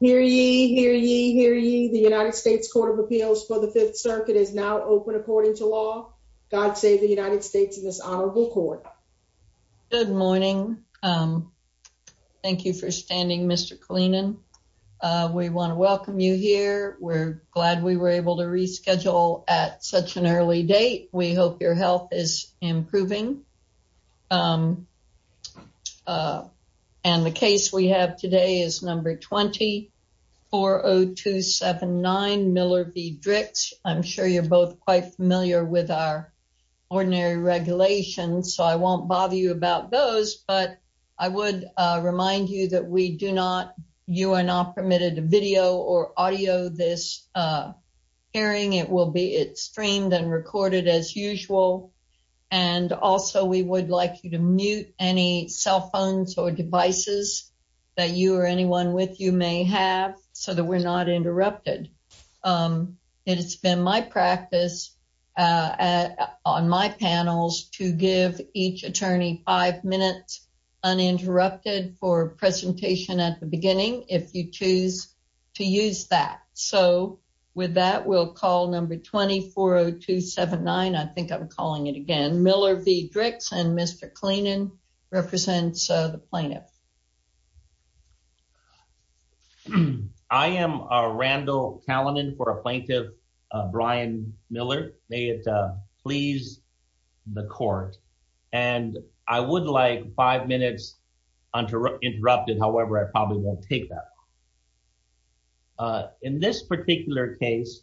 here. You hear you hear you. The United States Court of Appeals for the Fifth Circuit is now open. According to law, God save the United States of this honorable court. Good morning. Um, thank you for standing, Mr Cleaning. Uh, we want to welcome you here. We're glad we were able to reschedule at such an early date. We hope your health is improving. Um, uh, and the case we have today is number 20 40279 Miller v. Dricks. I'm sure you're both quite familiar with our ordinary regulations, so I won't bother you about those. But I would remind you that we do not. You are not permitted a video or audio. This, uh, hearing it will be streamed and recorded as usual. And also, we would like you to mute any cell phones or devices that you or anyone with you may have so that we're not interrupted. Um, it's been my practice, uh, on my panels to give each attorney five minutes uninterrupted for presentation at the beginning if you choose to use that. So with that, we'll call number 20 40279. I think I'm calling it again. Miller v. Dricks and Mr Cleaning represents the plaintiff. I am a Randall Callanen for a plaintiff. Brian Miller. May it please the court and I would like five minutes uninterrupted. However, I probably won't take that. In this particular case,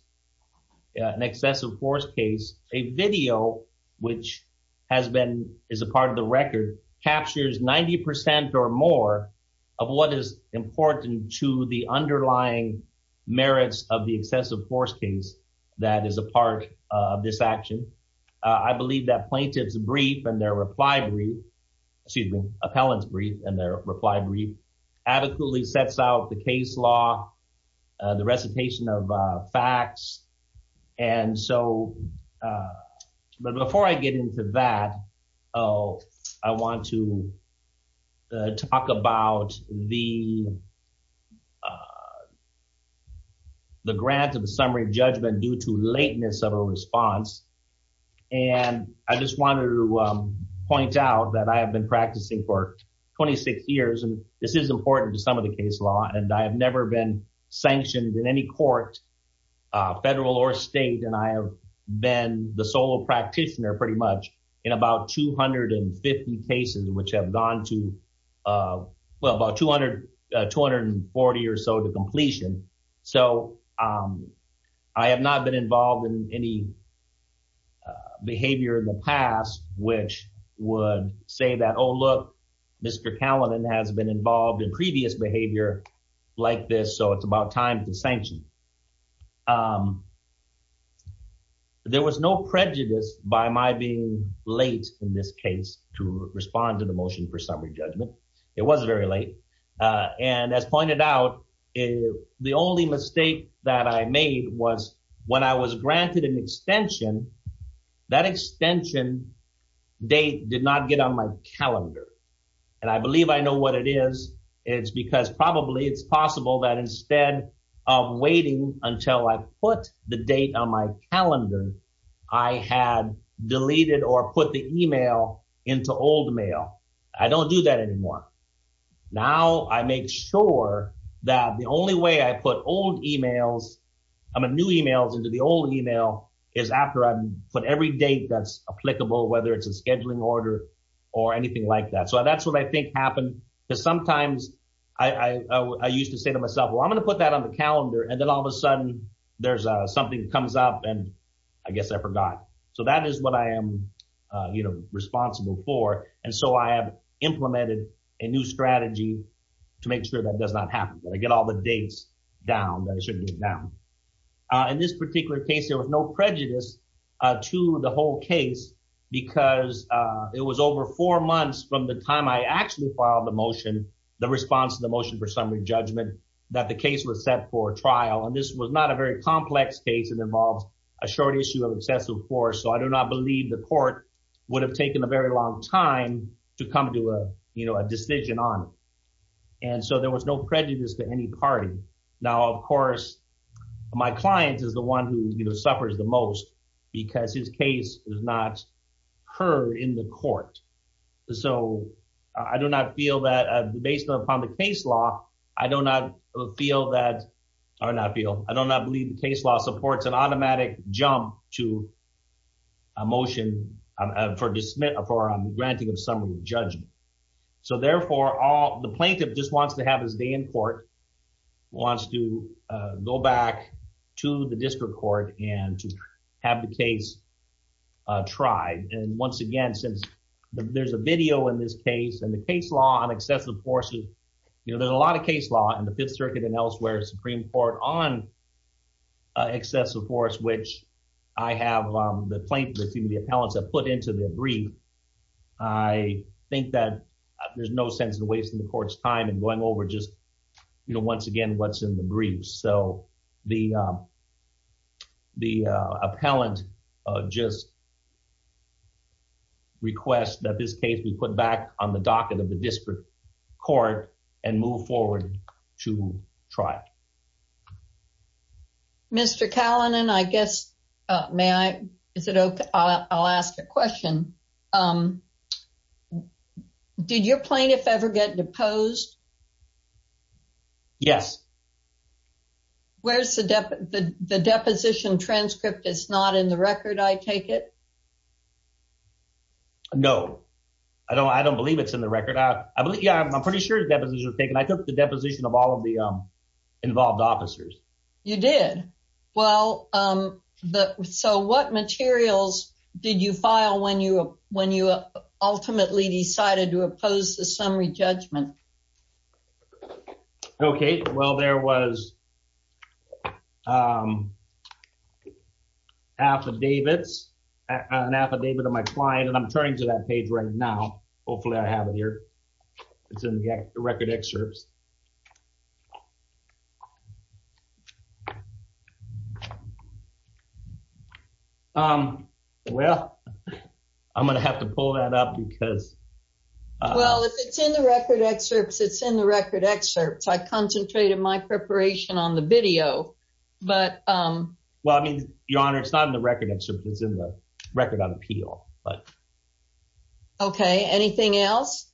an excessive force case, a video which has been is a part of the record captures 90% or more of what is important to the underlying merits of the excessive force case that is a part of this action. I believe that plaintiff's brief and their reply brief, excuse me, appellant's and their reply brief adequately sets out the case law, the recitation of facts. And so, uh, but before I get into that, oh, I want to talk about the, uh, the grant of a summary judgment due to lateness of a response. And I just wanted to, um, point out that I have been practicing for 26 years and this is important to some of the case law. And I have never been sanctioned in any court, uh, federal or state. And I have been the solo practitioner pretty much in about 250 cases, which have gone to, uh, well about 200, uh, 240 or so to completion. So, um, I have not been involved in any, uh, behavior in the past, which would say that, oh, look, Mr. Callan has been involved in previous behavior like this. So it's about time to sanction. Um, there was no prejudice by my being late in this case to respond to the motion for summary judgment. It was very late. Uh, and as pointed out, uh, the only mistake that I made was when I was granted an extension, that extension date did not get on my calendar. And I believe I know what it is. It's because probably it's possible that instead of waiting until I put the date on my calendar, I had deleted or put the email into old mail. I make sure that the only way I put old emails, I mean, new emails into the old email is after I put every date that's applicable, whether it's a scheduling order or anything like that. So that's what I think happened. Because sometimes I, I, I used to say to myself, well, I'm going to put that on the calendar. And then all of a sudden there's a, something comes up and I guess I forgot. So that is what I am, uh, you know, responsible for. And so I have implemented a new strategy to make sure that does not happen, that I get all the dates down, that it shouldn't be down. Uh, in this particular case, there was no prejudice, uh, to the whole case because, uh, it was over four months from the time I actually filed the motion, the response to the motion for summary judgment, that the case was set for trial. And this was not a very complex case. It involves a short issue of excessive force. So I do not believe the court would have taken a very long time to come to a, you know, a decision on it. And so there was no prejudice to any party. Now, of course, my client is the one who suffers the most because his case is not heard in the court. So I do not feel that, uh, based upon the case law, I do not feel that, or not feel, I do not believe the court is granting a summary judgment. So therefore, the plaintiff just wants to have his day in court, wants to go back to the district court and to have the case tried. And once again, since there's a video in this case and the case law on excessive force, you know, there's a lot of case law in the Fifth Circuit and elsewhere, Supreme Court on excessive force, which I have, um, the plaintiff, the appellants have put into the brief. I think that there's no sense in wasting the court's time and going over just, you know, once again, what's in the brief. So the, um, the, uh, appellant, uh, just request that this case be put back on the docket of the district court and move forward to trial. Mr. Kalanin, I guess, uh, may I, is it okay? I'll ask a question. Um, did your plaintiff ever get deposed? Yes. Where's the, the, the deposition transcript? It's not in the record. I take it. No, I don't. I don't believe it's in the record. I believe, yeah, I'm pretty sure the deposition was taken. I took the deposition of all of the involved officers. You did? Well, um, so what materials did you file when you, when you ultimately decided to oppose the summary judgment? Okay. Well, there was, um, affidavits, an affidavit of my client, and I'm turning to that page right now. Hopefully I have it here. It's in the record excerpts. Um, well, I'm going to have to pull that up because, uh, well, if it's in the record excerpts, it's in the record excerpts. I concentrated my preparation on the video, but, um, well, I mean, your honor, it's not in the record excerpts. It's in the record on appeal, but okay. Anything else?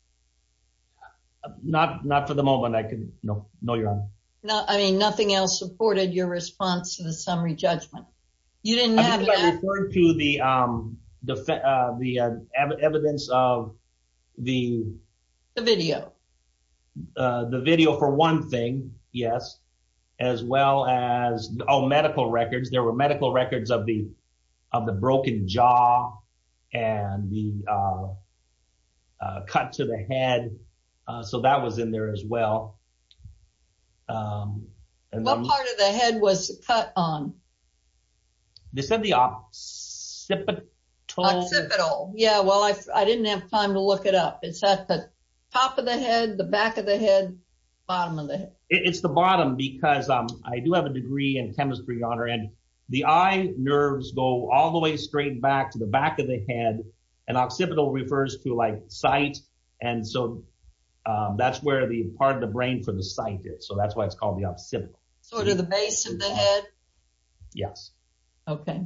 Not, not for the moment. I could know, know your honor. No, I mean, nothing else supported your response to the summary judgment. You didn't have to the, um, the, uh, the, uh, evidence of the video, uh, the video for one thing. Yes. As well as all medical records. There were medical records of the, of the broken jaw and the, uh, uh, cut to the head. Uh, so that was in there as well. Um, and then what part of the head was cut on? They said the occipital. Occipital. Yeah. Well, I, I didn't have time to look it up. It's at the top of the head, the back of the head, bottom of the head. It's the bottom because, um, I do have a degree in chemistry, your honor, and the eye nerves go all the way straight back to the back of the head and occipital refers to like site. And so, um, that's where the part of the brain for the site is. So that's why it's called the occipital sort of the base of the head. Yes. Okay.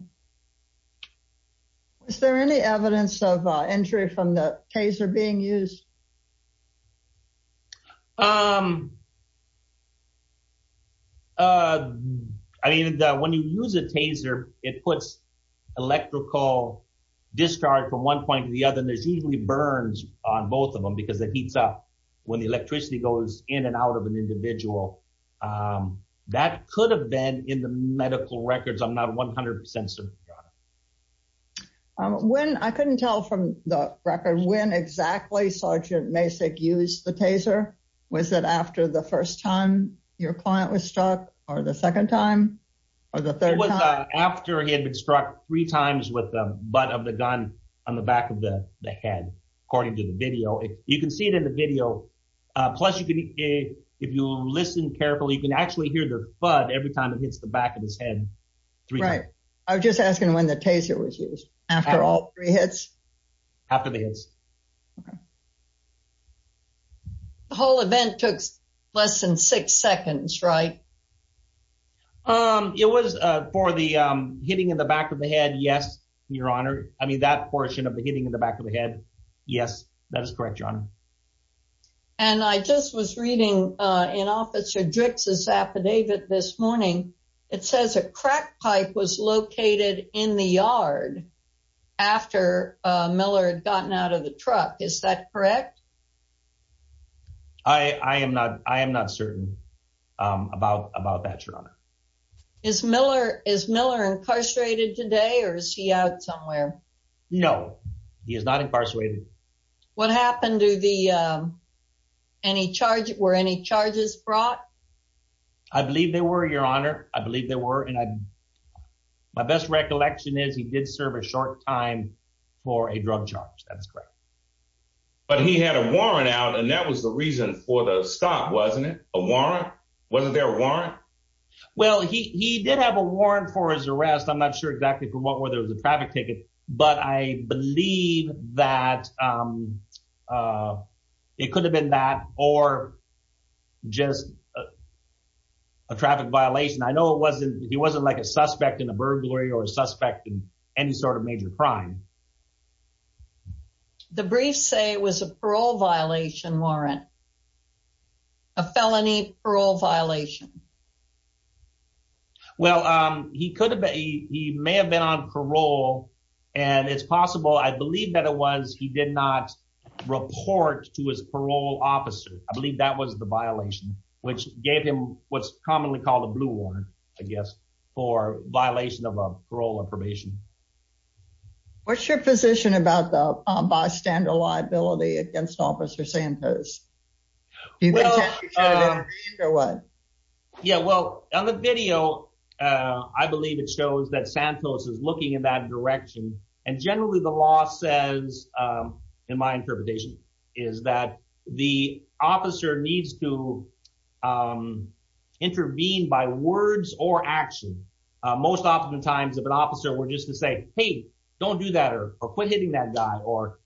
Is there any evidence of, uh, injury from the taser being used? Um, uh, I mean, uh, when you use a taser, it puts electrical discharge from one point to the other, and there's usually burns on both of them because the heats up when the electricity goes in and out of an individual. Um, that could have been in the medical records. I'm not 100% certain. Um, when I couldn't tell from the record, when exactly Sergeant Masick used the taser was that after the first time your client was struck or the second time or the third time after he had been struck three times with the butt of the gun on the back of the head. According to the video, you can see it in the video. Plus, you could if you listen carefully, you can actually hear the flood every time it hits the back of his head. Right. I was just asking when the taser was used after all three hits after the hits. The whole event took less than six seconds, right? Um, it was for the hitting in the back of the head. Yes, Your Honor. I mean, that portion of the hitting in the back of the head. Yes, that is correct, John. And I just was reading in Officer Drix's affidavit this morning. It says a crack pipe was located in the yard after Miller had gotten out of the truck. Is that correct? I am not. I am not certain about about that, Your Honor. Is Miller is Miller incarcerated today? Or is he out somewhere? No, he is not incarcerated. What happened to the any charge? Were any charges brought? I believe they were, Your Honor. I believe they were. And I my best recollection is he did serve a short time for a drug charge. That's correct. But he had a warrant out, and that was the reason for the stop, wasn't it? A warrant? Wasn't there a warrant? Well, he did have a warrant for his arrest. I'm not sure exactly for what, whether it was a traffic ticket, but I believe that, um, uh, it could have been that or just, uh, a traffic violation. I know it wasn't. He wasn't like a suspect in a burglary or suspect in any sort of major crime. The briefs say it was a parole violation warrant, a felony parole violation. Well, he could have. He may have been on parole, and it's possible. I believe that it was. He did not report to his parole officer. I believe that was the violation which gave him what's commonly called a blue one, I guess, for violation of a parole or probation. What's your position about the bystander liability against Officer Santos? Do you think he should have intervened or what? Yeah, well, on the video, I believe it shows that Santos is looking in that direction. And generally, the law says, um, in my interpretation, is that the officer needs to, um, intervene by words or action. Most often times, if an officer were just to say, Hey, don't do that or quit hitting that guy or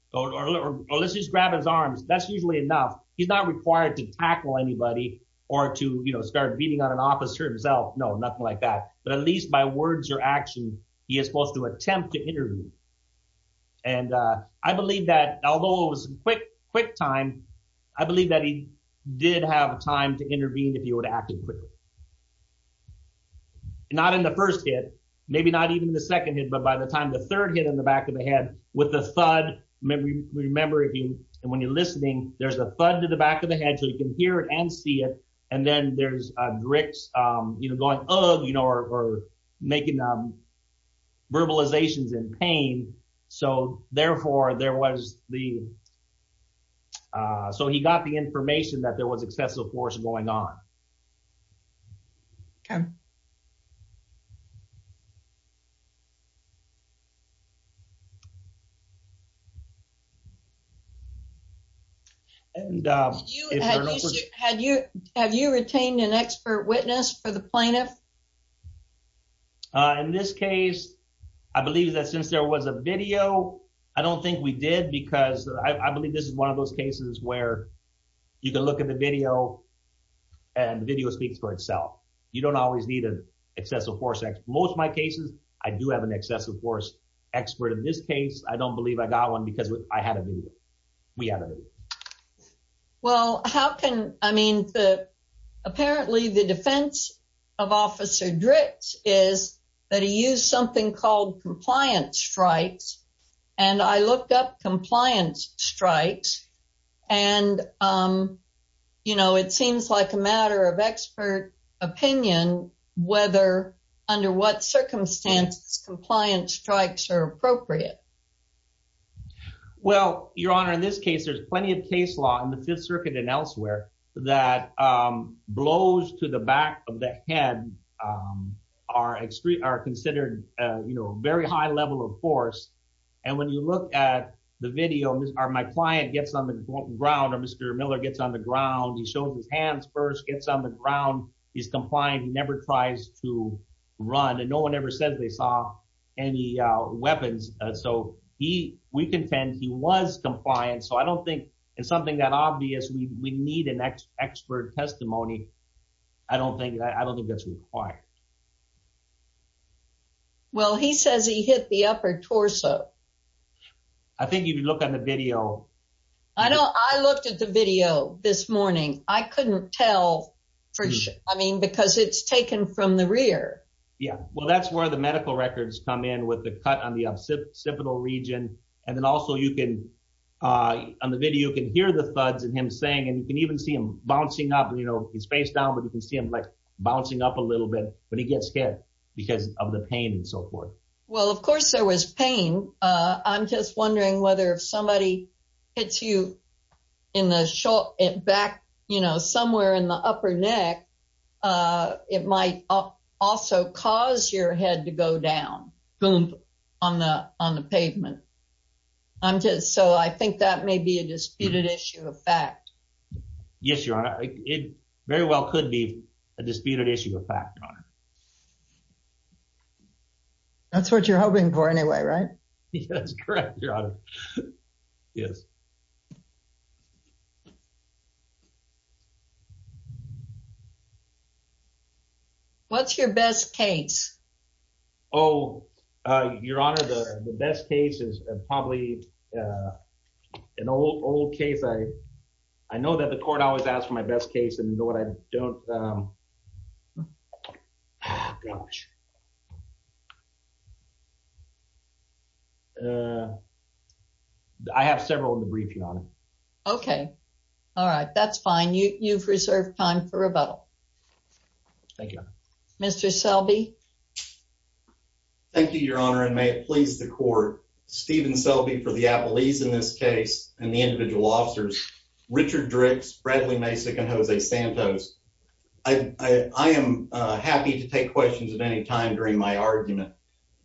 let's just grab his arms, that's usually enough. He's not required to tackle anybody or to start beating on an officer himself. No, nothing like that. But at least by words or action, he is supposed to attempt to interview. And I believe that although it was quick quick time, I believe that he did have time to intervene. If you would act quickly, not in the first hit, maybe not even the second hit. But by the time the third hit in the back of the head with the thud, remember him. And when you're listening, there's a thud to the back of the head so you can hear it and see it. And then there's dricks, um, you know, going, Oh, you know, or making, um, verbalizations in pain. So therefore, there was the, uh, so he got the information that there was excessive force going on. Okay. And, uh, have you have you retained an expert witness for the plaintiff? Uh, in this case, I believe that since there was a video, I don't think we did because I believe this is one of those cases where you can look at the video and video speaks for itself. You don't always need an excessive force. Most of my cases, I do have an excessive force expert. In this case, I don't believe I got one because I had a video. We have a video. Well, how can I mean the apparently the defense of Officer Drix is that he used something called compliance strikes. And I looked up compliance strikes and, um, you know, it seems like a matter of expert opinion whether under what circumstances compliance strikes are appropriate. Well, Your Honor, in this case, there's plenty of case law in the Fifth Circuit and elsewhere that, um, blows to the back of the head. Um, are extreme are considered, you know, very high level of force. And when you look at the video, my client gets on the ground or Mr Miller gets on the ground. He shows his hands first gets on the ground. He's complying. He never tries to run, and no one ever says they saw any weapons. So he we contend he was compliant. So I don't think it's something that obvious. We need an expert testimony. I don't think I don't think that's required. Yeah. Well, he says he hit the upper torso. I think you could look on the video. I don't. I looked at the video this morning. I couldn't tell for sure. I mean, because it's taken from the rear. Yeah, well, that's where the medical records come in with the cut on the occipital region. And then also you can, uh, on the video, you can hear the thuds and him saying, and you can even see him bouncing up. You know, he's bouncing up a little bit, but he gets scared because of the pain and so forth. Well, of course there was pain. I'm just wondering whether if somebody hits you in the short back, you know, somewhere in the upper neck, uh, it might also cause your head to go down boom on the on the pavement. I'm just so I think that may be a disputed issue of fact. Yes, Your Honor. It very well could be a disputed issue of fact, Your Honor. That's what you're hoping for anyway, right? Yes, correct, Your Honor. Yes. What's your best case? Oh, Your Honor, the best case is probably, uh, an old case. I know that the court always asked for my best case and what I don't, um, gosh, uh, I have several in the briefing on it. Okay. All right. That's fine. You've reserved time for rebuttal. Thank you, Mr Selby. Thank you, Your Honor. And may it please the court Steven Selby for the police in this case and the individual officers, Richard Drix, Bradley Masick and Jose Santos. I am happy to take questions at any time during my argument.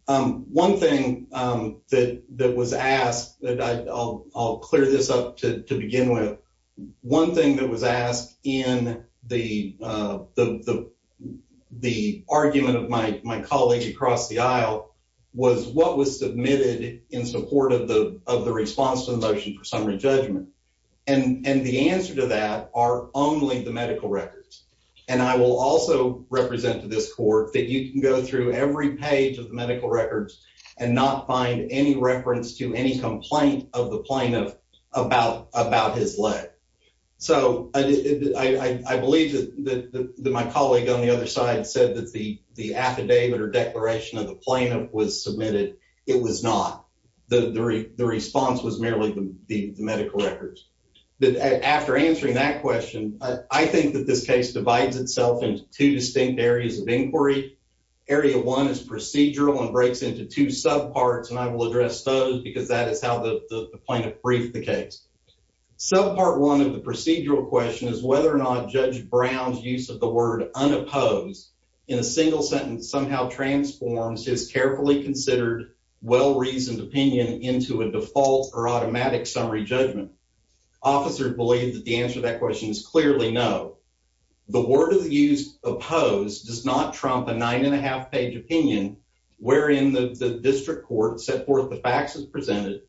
Um, one thing, um, that was asked that I'll clear this up to begin with. One thing that was asked in the, uh, the the argument of my colleague across the aisle was what was submitted in support of the of the response to the motion for summary judgment. And and the answer to that are only the medical records. And I will also represent to this court that you can go through every page of the medical records and not find any reference to any complaint of the plaintiff about about his leg. So I believe that my colleague on the other side said that the affidavit or declaration of the plaintiff was submitted. It was not. The response was merely the medical records that after answering that question, I think that this case divides itself into two distinct areas of inquiry. Area one is procedural and breaks into two sub parts, and I will address those because that is how the plaintiff briefed the case. So part one of the procedural question is whether or not Judge Brown's use of the word unopposed in a single sentence somehow transforms his carefully considered, well reasoned opinion into a default or automatic summary judgment. Officers believe that the answer to that question is clearly no. The word of the use opposed does not trump a 9.5 page opinion, wherein the district court set forth the facts is presented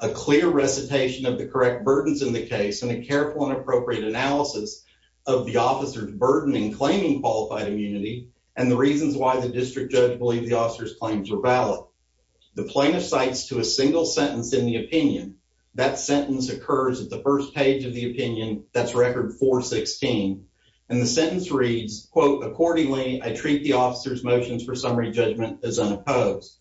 a clear recitation of the correct burdens in the case and a qualified immunity and the reasons why the district judge believe the officer's claims were valid. The plaintiff cites to a single sentence in the opinion. That sentence occurs at the first page of the opinion. That's record 4 16. And the sentence reads, quote, Accordingly, I treat the officer's motions for summary judgment is unopposed.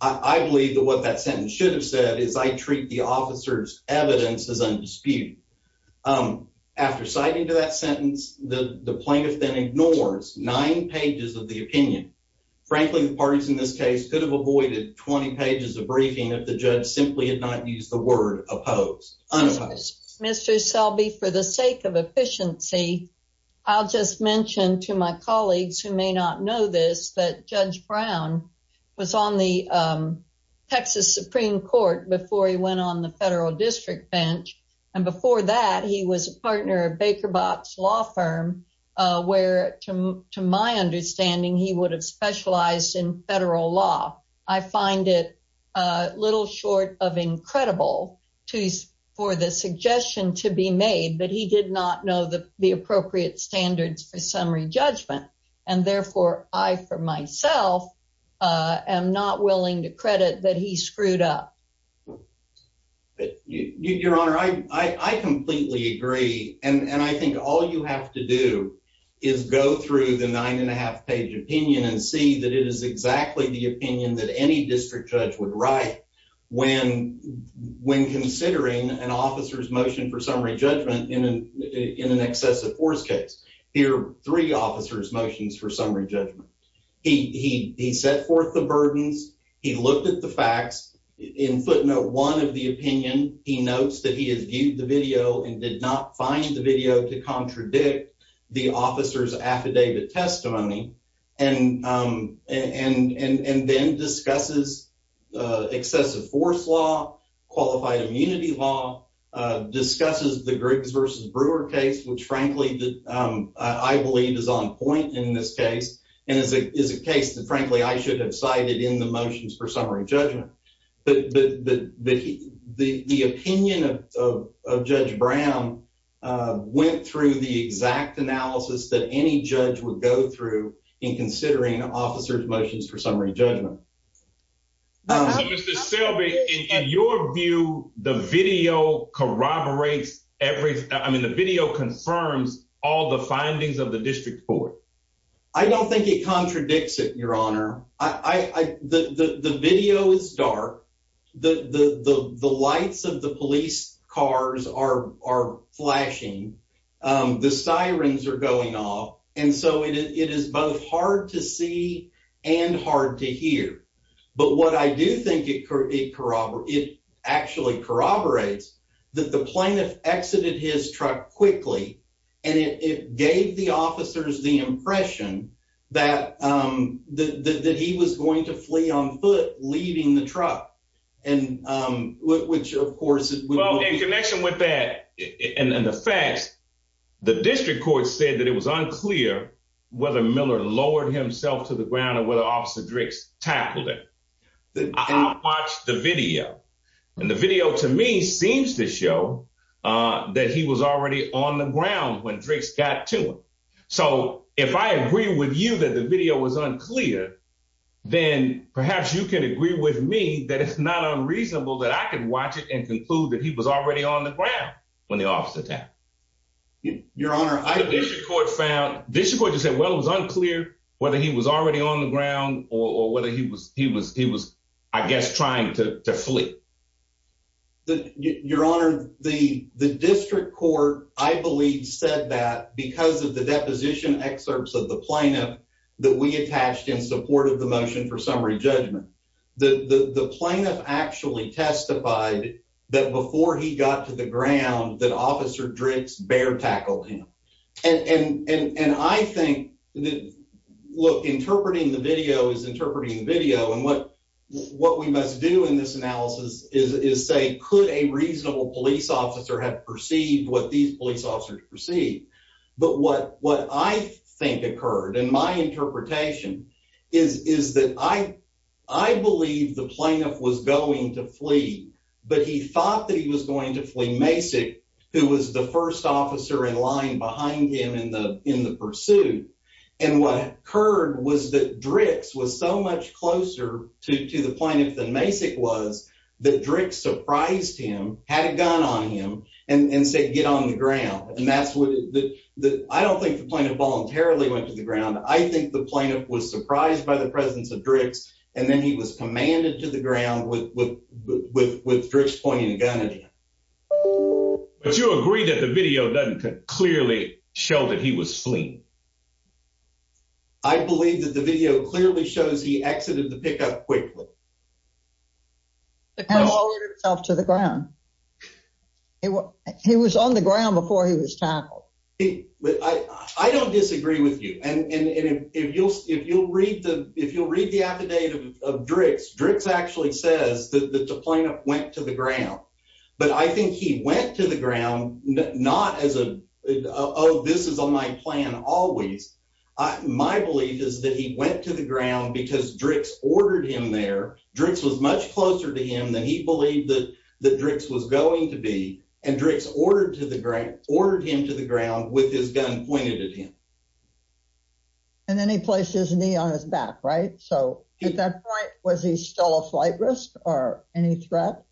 I believe that what that sentence should have said is I treat the officer's evidence is undisputed. Um, after citing to that sentence, the plaintiff then ignores nine pages of the opinion. Frankly, the parties in this case could have avoided 20 pages of briefing if the judge simply had not used the word opposed. Mr Selby, for the sake of efficiency, I'll just mention to my colleagues who may not know this, that Judge Brown was on the Texas Supreme Court before he went on the federal district bench. And before that, he was a partner of Baker box law firm where to my understanding, he would have specialized in federal law. I find it a little short of incredible to for the suggestion to be made that he did not know the appropriate standards for summary judgment, and therefore I for myself, uh, am not willing to credit that he screwed up. Your Honor, I completely agree. And I think all you have to do is go through the 9.5 page opinion and see that it is exactly the opinion that any district judge would write when when considering an officer's motion for summary judgment in an in an excessive force case here, three officers motions for summary judgment. He set forth the burdens. He looked at the facts in footnote one of the opinion. He notes that he has viewed the video and did not find the video to contradict the officer's affidavit testimony and, um, and and then discusses excessive force law, qualified immunity law, uh, discusses the groups versus Brewer case, which, frankly, I believe is on point in this case and is a is a case that, frankly, I should have cited in the the the opinion of Judge Brown went through the exact analysis that any judge would go through in considering officers motions for summary judgment. Uh, Mr Shelby, in your view, the video corroborates every. I mean, the video confirms all the findings of the district court. I don't think it the the the lights of the police cars are are flashing. Um, the sirens air going off, and so it is both hard to see and hard to hear. But what I do think it could corroborate actually corroborates that the plaintiff exited his truck quickly, and it gave the officers the impression that, um, that that he was going to flee on foot, leaving the truck. And, um, which, of course, in connection with that and the facts, the district court said that it was unclear whether Miller lowered himself to the ground or whether officer Drix tackled it. I watched the video, and the video to me seems to show that he was already on the ground when drinks got to him. So if I agree with you that the video was unclear, then perhaps you can agree with me that it's not unreasonable that I could watch it and conclude that he was already on the ground when the officer that your honor, I found this report just said, Well, it was unclear whether he was already on the ground or whether he was. He was. He was, I guess, trying to flee. Your Honor, the district court, I believe, said that because of the deposition excerpts of the plaintiff that we attached in support of the motion for summary judgment, the plaintiff actually testified that before he got to the ground that officer drinks bear tackled him. And I think look, interpreting the video is interpreting the video. And what what we must do in this analysis is say, Could a reasonable police officer have perceived what these police officers perceive? But what what I think occurred in my interpretation is is that I I believe the plaintiff was going to flee, but he thought that he was going to flee basic, who was the first officer in line behind him in the in the pursuit. And what occurred was that dricks was so much closer to the point of the basic was that drink surprised him, had a gun on him and say, Get on the ground. And that's what I don't think the point of voluntarily went to the ground. I think the plaintiff was surprised by the presence of dricks. And then he was commanded to the ground with with with with dricks pointing a gun at him. But you agree that the video doesn't clearly show that he was fleeing. I believe that the video clearly shows he exited the pickup quickly. The call itself to the ground. It was he was on the ground before he was tackled. He I don't disagree with you. And if you'll if you'll read the if you'll read the affidavit of dricks, dricks actually says that the plaintiff went to the ground. But I think he went to the ground, not as a Oh, this is on my plan. Always. My belief is that he went to the ground because dricks ordered him there. Drinks was much closer to him than he believed that the drinks was going to be. And drinks ordered to the grant ordered him to the ground with his gun pointed at him. And then he placed his knee on his back, right? So at that point, was he still a flight risk or any threat?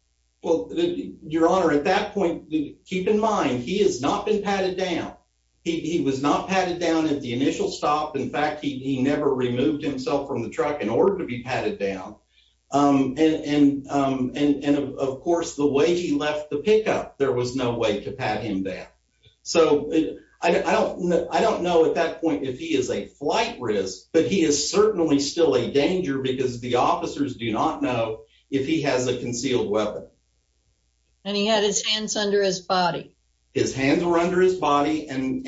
Well, your honor, at that point, keep in mind, he has not been patted down. He was not patted down at the initial stop. In and of course, the way he left the pickup, there was no way to pat him down. So I don't I don't know at that point if he is a flight risk, but he is certainly still a danger because the officers do not know if he has a concealed weapon. And he had his hands under his body, his hands were under his body, and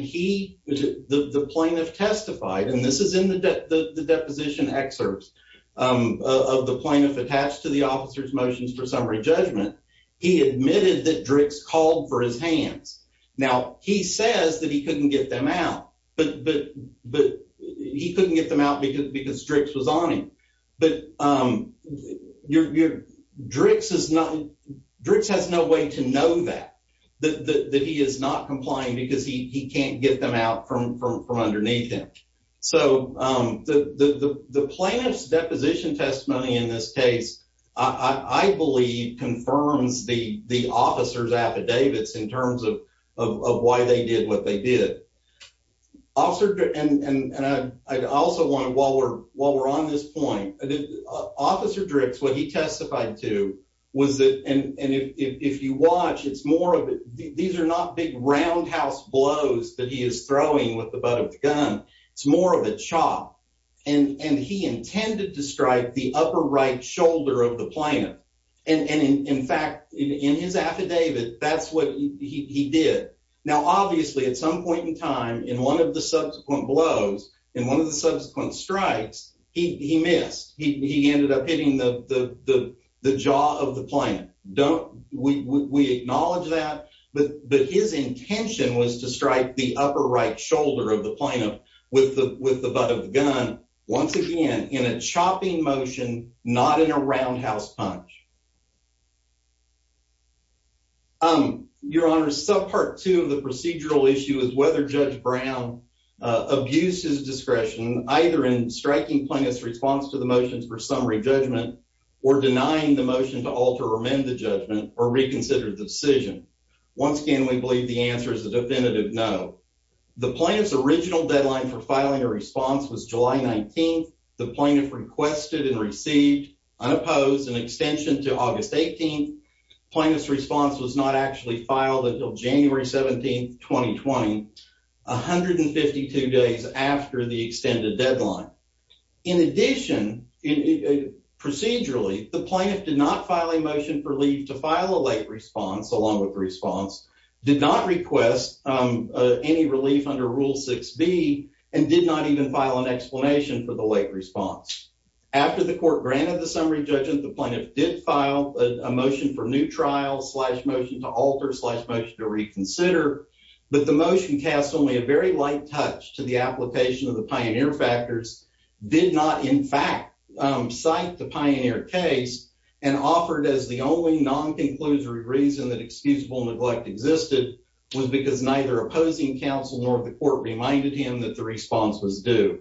he the plaintiff testified, and this is in the deposition excerpts. Of the plaintiff attached to the officer's motions for summary judgment, he admitted that drinks called for his hands. Now he says that he couldn't get them out, but but but he couldn't get them out because because tricks was on him. But, um, you're you're drinks is not drinks has no way to know that that he is not complying because he can't get them out from from from underneath him. So, um, the plaintiff's deposition testimony in this case, I believe, confirms the the officer's affidavits in terms of of why they did what they did. Officer and I also want to while we're while we're on this point, officer drinks. What he testified to was that and if you watch, it's more of it. These are not big roundhouse blows that he is throwing with the gun. It's more of a chop, and he intended to strike the upper right shoulder of the planet. And in fact, in his affidavit, that's what he did. Now, obviously, at some point in time in one of the subsequent blows in one of the subsequent strikes, he missed. He ended up hitting the jaw of the planet. Don't we acknowledge that? But his intention was to strike the upper right shoulder of the planet with the with the gun once again in a chopping motion, not in a roundhouse punch. Um, Your Honor, subpart two of the procedural issue is whether Judge Brown abuses discretion, either in striking plaintiff's response to the motions for summary judgment or denying the motion to alter or mend the judgment or reconsidered the decision. Once again, we believe the answer is a definitive. No, the plaintiff's original deadline for filing a response was July 19th. The plaintiff requested and received unopposed an extension to August 18th. Plaintiff's response was not actually filed until January 17th, 2020, 152 days after the extended deadline. In addition, procedurally, the plaintiff did not file a motion for leave to file a late response along with response did not request any relief under Rule six B and did not even file an explanation for the late response. After the court granted the summary judgment, the plaintiff did file a motion for new trial slash motion to alter slash motion to reconsider. But the motion cast only a very light touch to the application of the pioneer factors did not, in fact, cite the pioneer case and offered as the only non conclusory reason that excusable neglect existed was because neither opposing counsel nor the court reminded him that the response was due.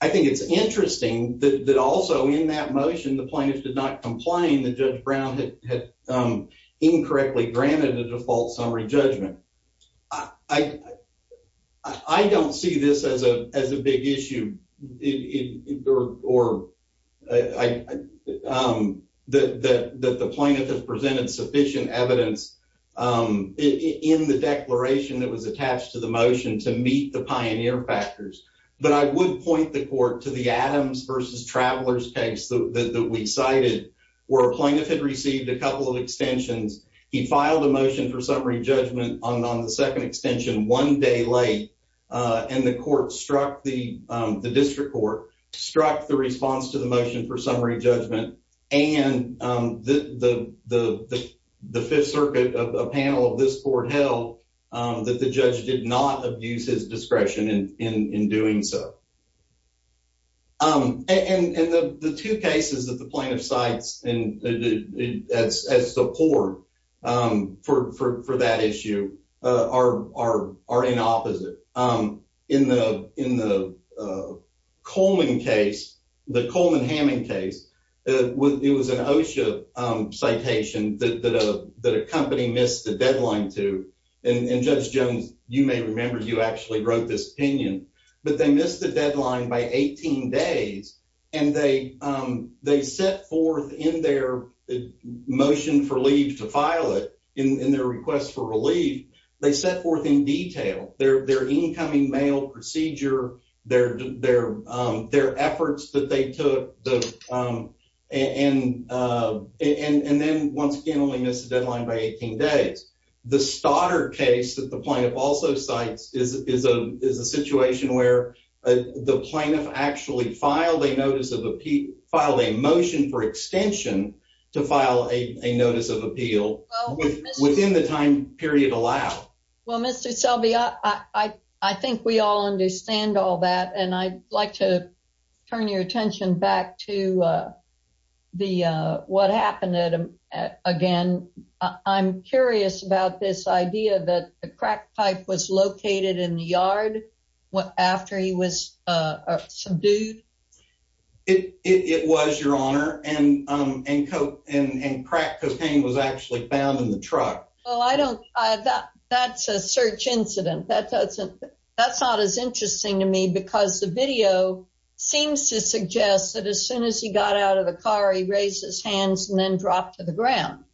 I think it's interesting that also in that motion, the plaintiff did not complain that Judge Brown had incorrectly granted a default summary judgment. I don't see this as a big issue or I, um, that that the plaintiff has presented sufficient evidence, um, in the declaration that was attached to the motion to meet the pioneer factors. But I would point the court to the Adams versus travelers case that we cited where plaintiff had received a couple of extensions. He filed a motion for summary judgment on the second extension one day late on the court struck the district court struck the response to the motion for summary judgment. And, um, the fifth circuit of a panel of this court held that the judge did not abuse his discretion in doing so. Um, and the two cases that the plaintiff sites and as support for that issue are are are in opposite. Um, in the in the, uh, Coleman case, the Coleman Hamming case, it was an OSHA citation that a company missed the deadline to. And Judge Jones, you may remember you actually wrote this opinion, but they missed the deadline by 18 days, and they, um, they set forth in their motion for leave to file it in their request for relief. They set forth in detail their incoming mail procedure, their their their efforts that they took the, um, and, uh, and then once again, only missed the deadline by 18 days. The starter case that the point of also sites is a situation where the plaintiff actually filed a notice of a P filed a motion for extension to file a notice of appeal within the time period allowed. Well, Mr Selby, I think we all understand all that, and I'd like to turn your attention back to, uh, the what happened again. I'm curious about this idea that the crack pipe was located in the yard after he was, uh, dude. It was your honor and and and crack cocaine was actually found in the truck. Oh, I don't. That's a search incident. That doesn't. That's not as interesting to me because the video seems to suggest that as soon as he got out of the car, he raised his hands and then dropped to the ground.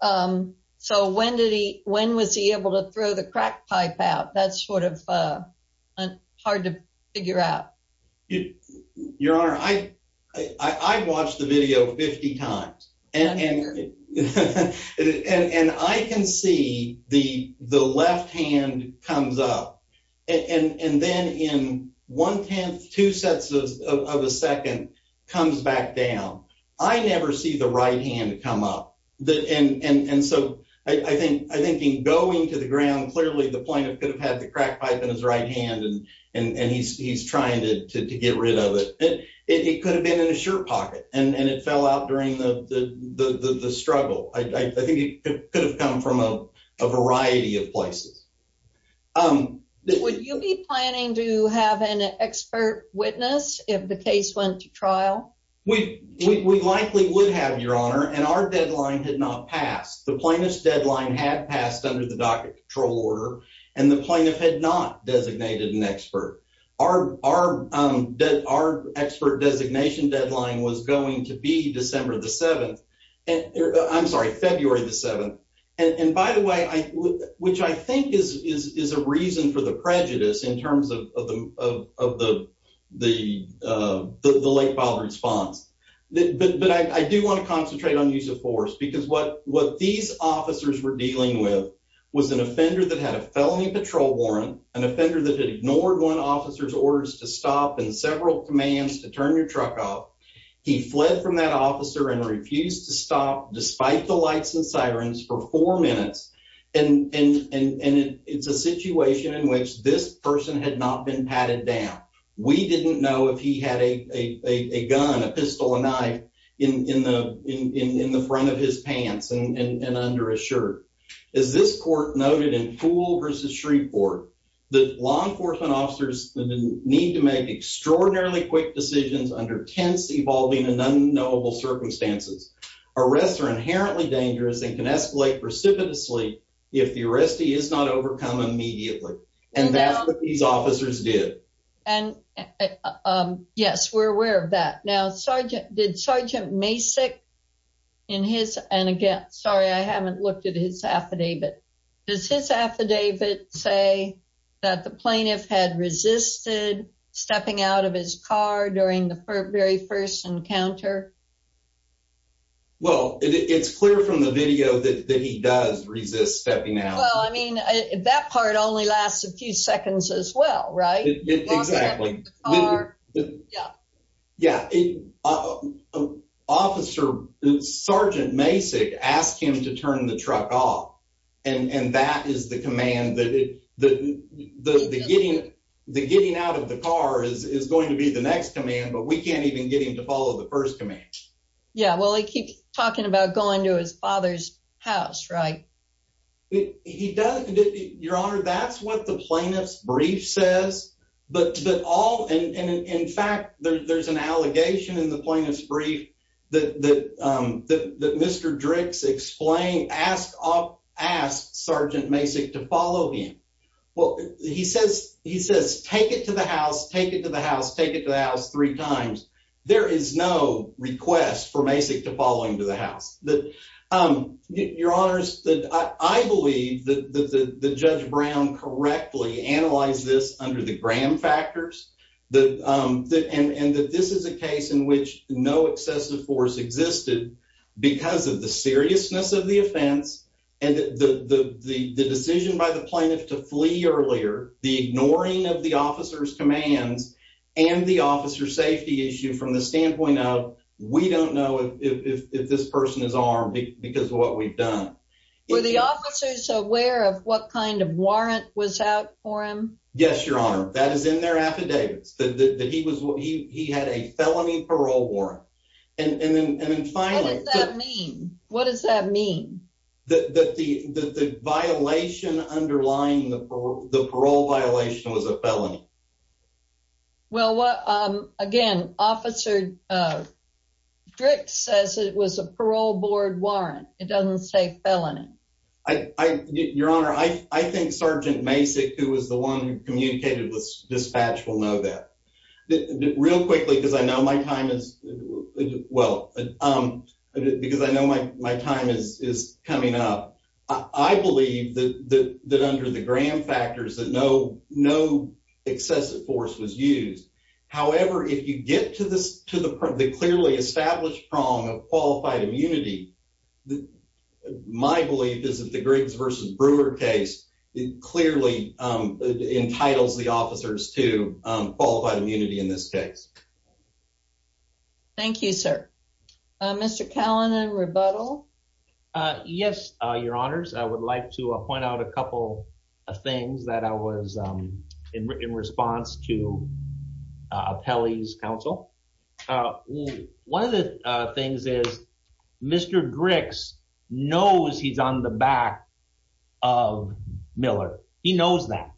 Um, so when did he? When was he able to throw the crack pipe out? That's sort of, uh, hard to figure out your honor. I watched the video 50 times and I can see the left hand comes up and then in 1 10th 2 sets of a second comes back down. I never see the right hand come up. And so I think I think going to the ground clearly, the plaintiff could have had the crack pipe in his right hand, and he's trying to get rid of it. It could have been in a shirt pocket, and it fell out during the struggle. I think it could have come from a variety of places. Um, would you be planning to have an expert witness if the case went to trial? We likely would have your honor and our deadline did not pass. The plaintiff's deadline had passed under the docket control order, and the plaintiff had not designated an expert. Our our our expert designation deadline was going to be December the 7th. I'm sorry, February the 7th. And by the way, which I think is is is a reason for the prejudice in terms of the of the the the late father response. But I do want to what these officers were dealing with was an offender that had a felony patrol warrant, an offender that ignored one officer's orders to stop in several commands to turn your truck off. He fled from that officer and refused to stop despite the lights and sirens for four minutes. And it's a situation in which this person had not been patted down. We didn't know if he had a gun, a pistol, a knife in the in the front of his pants and under a shirt. Is this court noted in pool versus Shreveport? The law enforcement officers need to make extraordinarily quick decisions under tense, evolving and unknowable circumstances. Arrests are inherently dangerous and can escalate precipitously if the arrestee is not overcome immediately. And that's these officers did. And, um, yes, we're aware of that. Now, Sergeant did Sergeant Mason in his and again, sorry, I haven't looked at his affidavit. Does his affidavit say that the plaintiff had resisted stepping out of his car during the very first encounter? Well, it's clear from the video that he does resist stepping out. I mean, that part only lasts a few seconds as well, right? Exactly. Yeah. Yeah. Uh, officer Sergeant Mason asked him to turn the truck off, and that is the command that the getting the getting out of the car is going to be the next command. But we can't even get him to follow the first command. Yeah, well, he keeps talking about going to his father's house, right? He does. Your Honor, that's what the plaintiff's brief says. But all in fact, there's an allegation in the plaintiff's brief that Mr Drix explained, asked Sergeant Mason to follow him. Well, he says, he says, Take it to the house, take it to the house, take it to the house three times. There is no request for Mason to following to the house that, um, your honors that I believe that the judge Brown correctly analyze this under the Graham factors that, um, and that this is a case in which no excessive force existed because of the seriousness of the offense and the decision by the plaintiff to flee earlier, the ignoring of the officer's commands and the officer safety issue from the standpoint of we don't know if this person is armed because of what we've done. Were the officers aware of what kind of warrant was out for him? Yes, your honor. That is in their affidavits that he was what he had a felony parole warrant. And then finally, what does that mean? That the violation underlying the parole violation was a felony. Mhm. Well, what? Um, again, Officer, uh, Drix says it was a parole board warrant. It doesn't say felony. I, your honor, I think Sergeant Mason, who was the one who communicated with dispatch, will know that real quickly because I know my time is well, um, because I know my time is coming up. I believe that under the Graham factors that no, no excessive force was used. However, if you get to this, to the clearly established prong of qualified immunity, my belief is that the Griggs versus Brewer case clearly, um, entitles the officers to qualified immunity in this case. Thank you, sir. Mr Kalan and rebuttal. Uh, yes, your honors. I would like to point out a couple of things that I was, um, in response to, uh, Kelly's counsel. Uh, one of the things is Mr Griggs knows he's on the back of Miller. He knows that.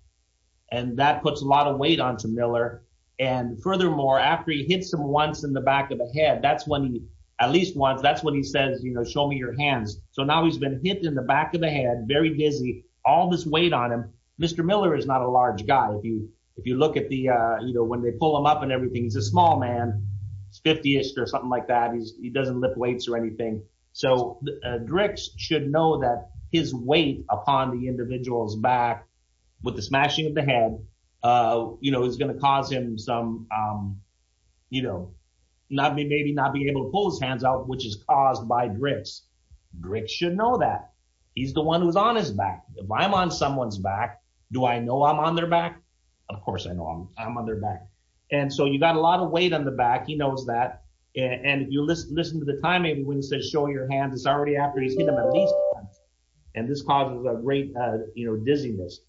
And that puts a lot of weight onto Miller. And furthermore, after he hits him once in the back of the head, that's when he at least once. That's what he says. You know, show me your hands. So now he's been hit in the back of the head, very busy, all this weight on him. Mr. Miller is not a large guy. If you, if you look at the, uh, you know, when they pull them up and everything, he's a small man, it's 50 ish or something like that. He's, he doesn't lift weights or anything. So, uh, directs should know that his weight upon the individual's back with the smashing of the head, uh, you know, is going to cause him some, um, you know, not me, maybe not be able to pull his Griggs should know that he's the one who's on his back. If I'm on someone's back, do I know I'm on their back? Of course I know I'm on their back. And so you got a lot of weight on the back. He knows that. And you listen, listen to the time. Maybe when he says, show your hands, it's already after he's hit them at least once. And this causes a great, uh, you know, dizziness.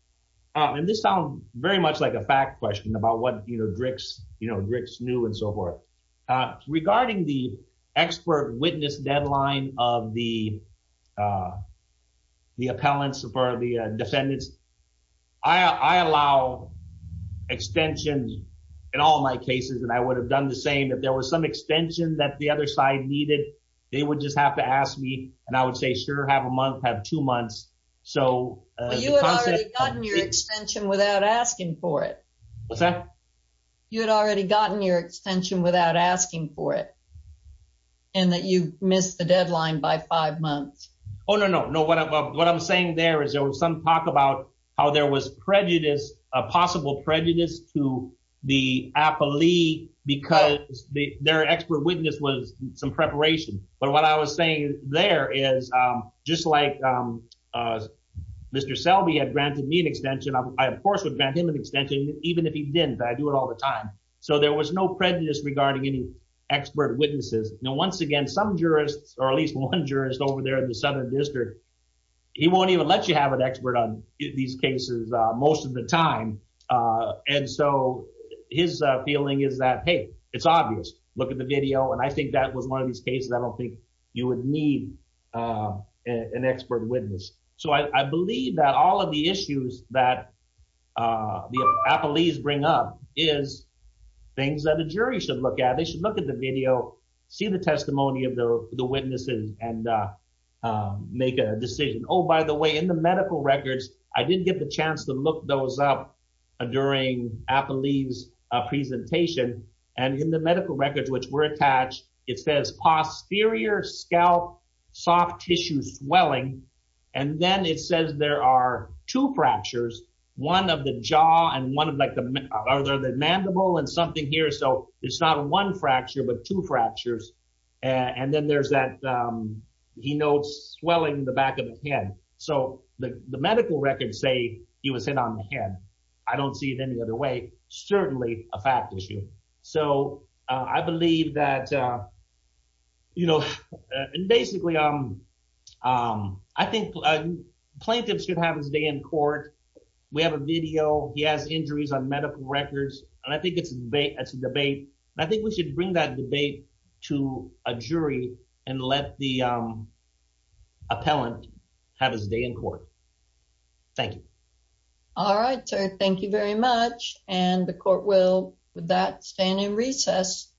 Um, and this sounds very much like a fact question about what, you know, drinks, you know, drinks new and so forth, uh, regarding the expert witness deadline of the, uh, the appellants or the defendants. I allow extension in all my cases. And I would have done the same. If there was some extension that the other side needed, they would just have to ask me. And I would say, sure, have a month, have two months. So you had already gotten your extension without asking for it. What's that? You had already gotten your extension without asking for it. And that you missed the deadline by five months. Oh, no, no, no. What I'm saying there is there was some talk about how there was prejudice, a possible prejudice to the appellee because their expert witness was some preparation. But what I was saying there is, um, just like, um, uh, Mr Selby had granted me an extension. I, of course, would grant him an extension even if he didn't. I do it all the time. So there was no prejudice regarding any expert witnesses. Now, once again, some jurists or at least one jurist over there in the Southern District, he won't even let you have an expert on these cases most of the time. Uh, and so his feeling is that, hey, it's obvious. Look at the video. And I think that was one of these cases. I don't think you would need, uh, an expert witness. So I believe that all of the issues that, uh, the appellees bring up is things that the jury should look at. They should look at the video, see the testimony of the witnesses and, uh, make a decision. Oh, by the way, in the medical records, I didn't get the chance to look those up during appellees presentation and in the medical records, it says exterior scalp, soft tissue swelling. And then it says there are two fractures, one of the jaw and one of like the mandible and something here. So it's not one fracture, but two fractures. And then there's that, um, he notes swelling the back of the head. So the medical records say he was hit on the head. I don't see it any other way. Certainly a fact issue. So I believe that, uh, you know, basically, um, um, I think plaintiffs should have his day in court. We have a video. He has injuries on medical records, and I think it's debate. That's a debate. I think we should bring that debate to a jury and let the, um, appellant have his day in court. Thank you. All right, sir. Thank you very much. And the court will with that stand in recess.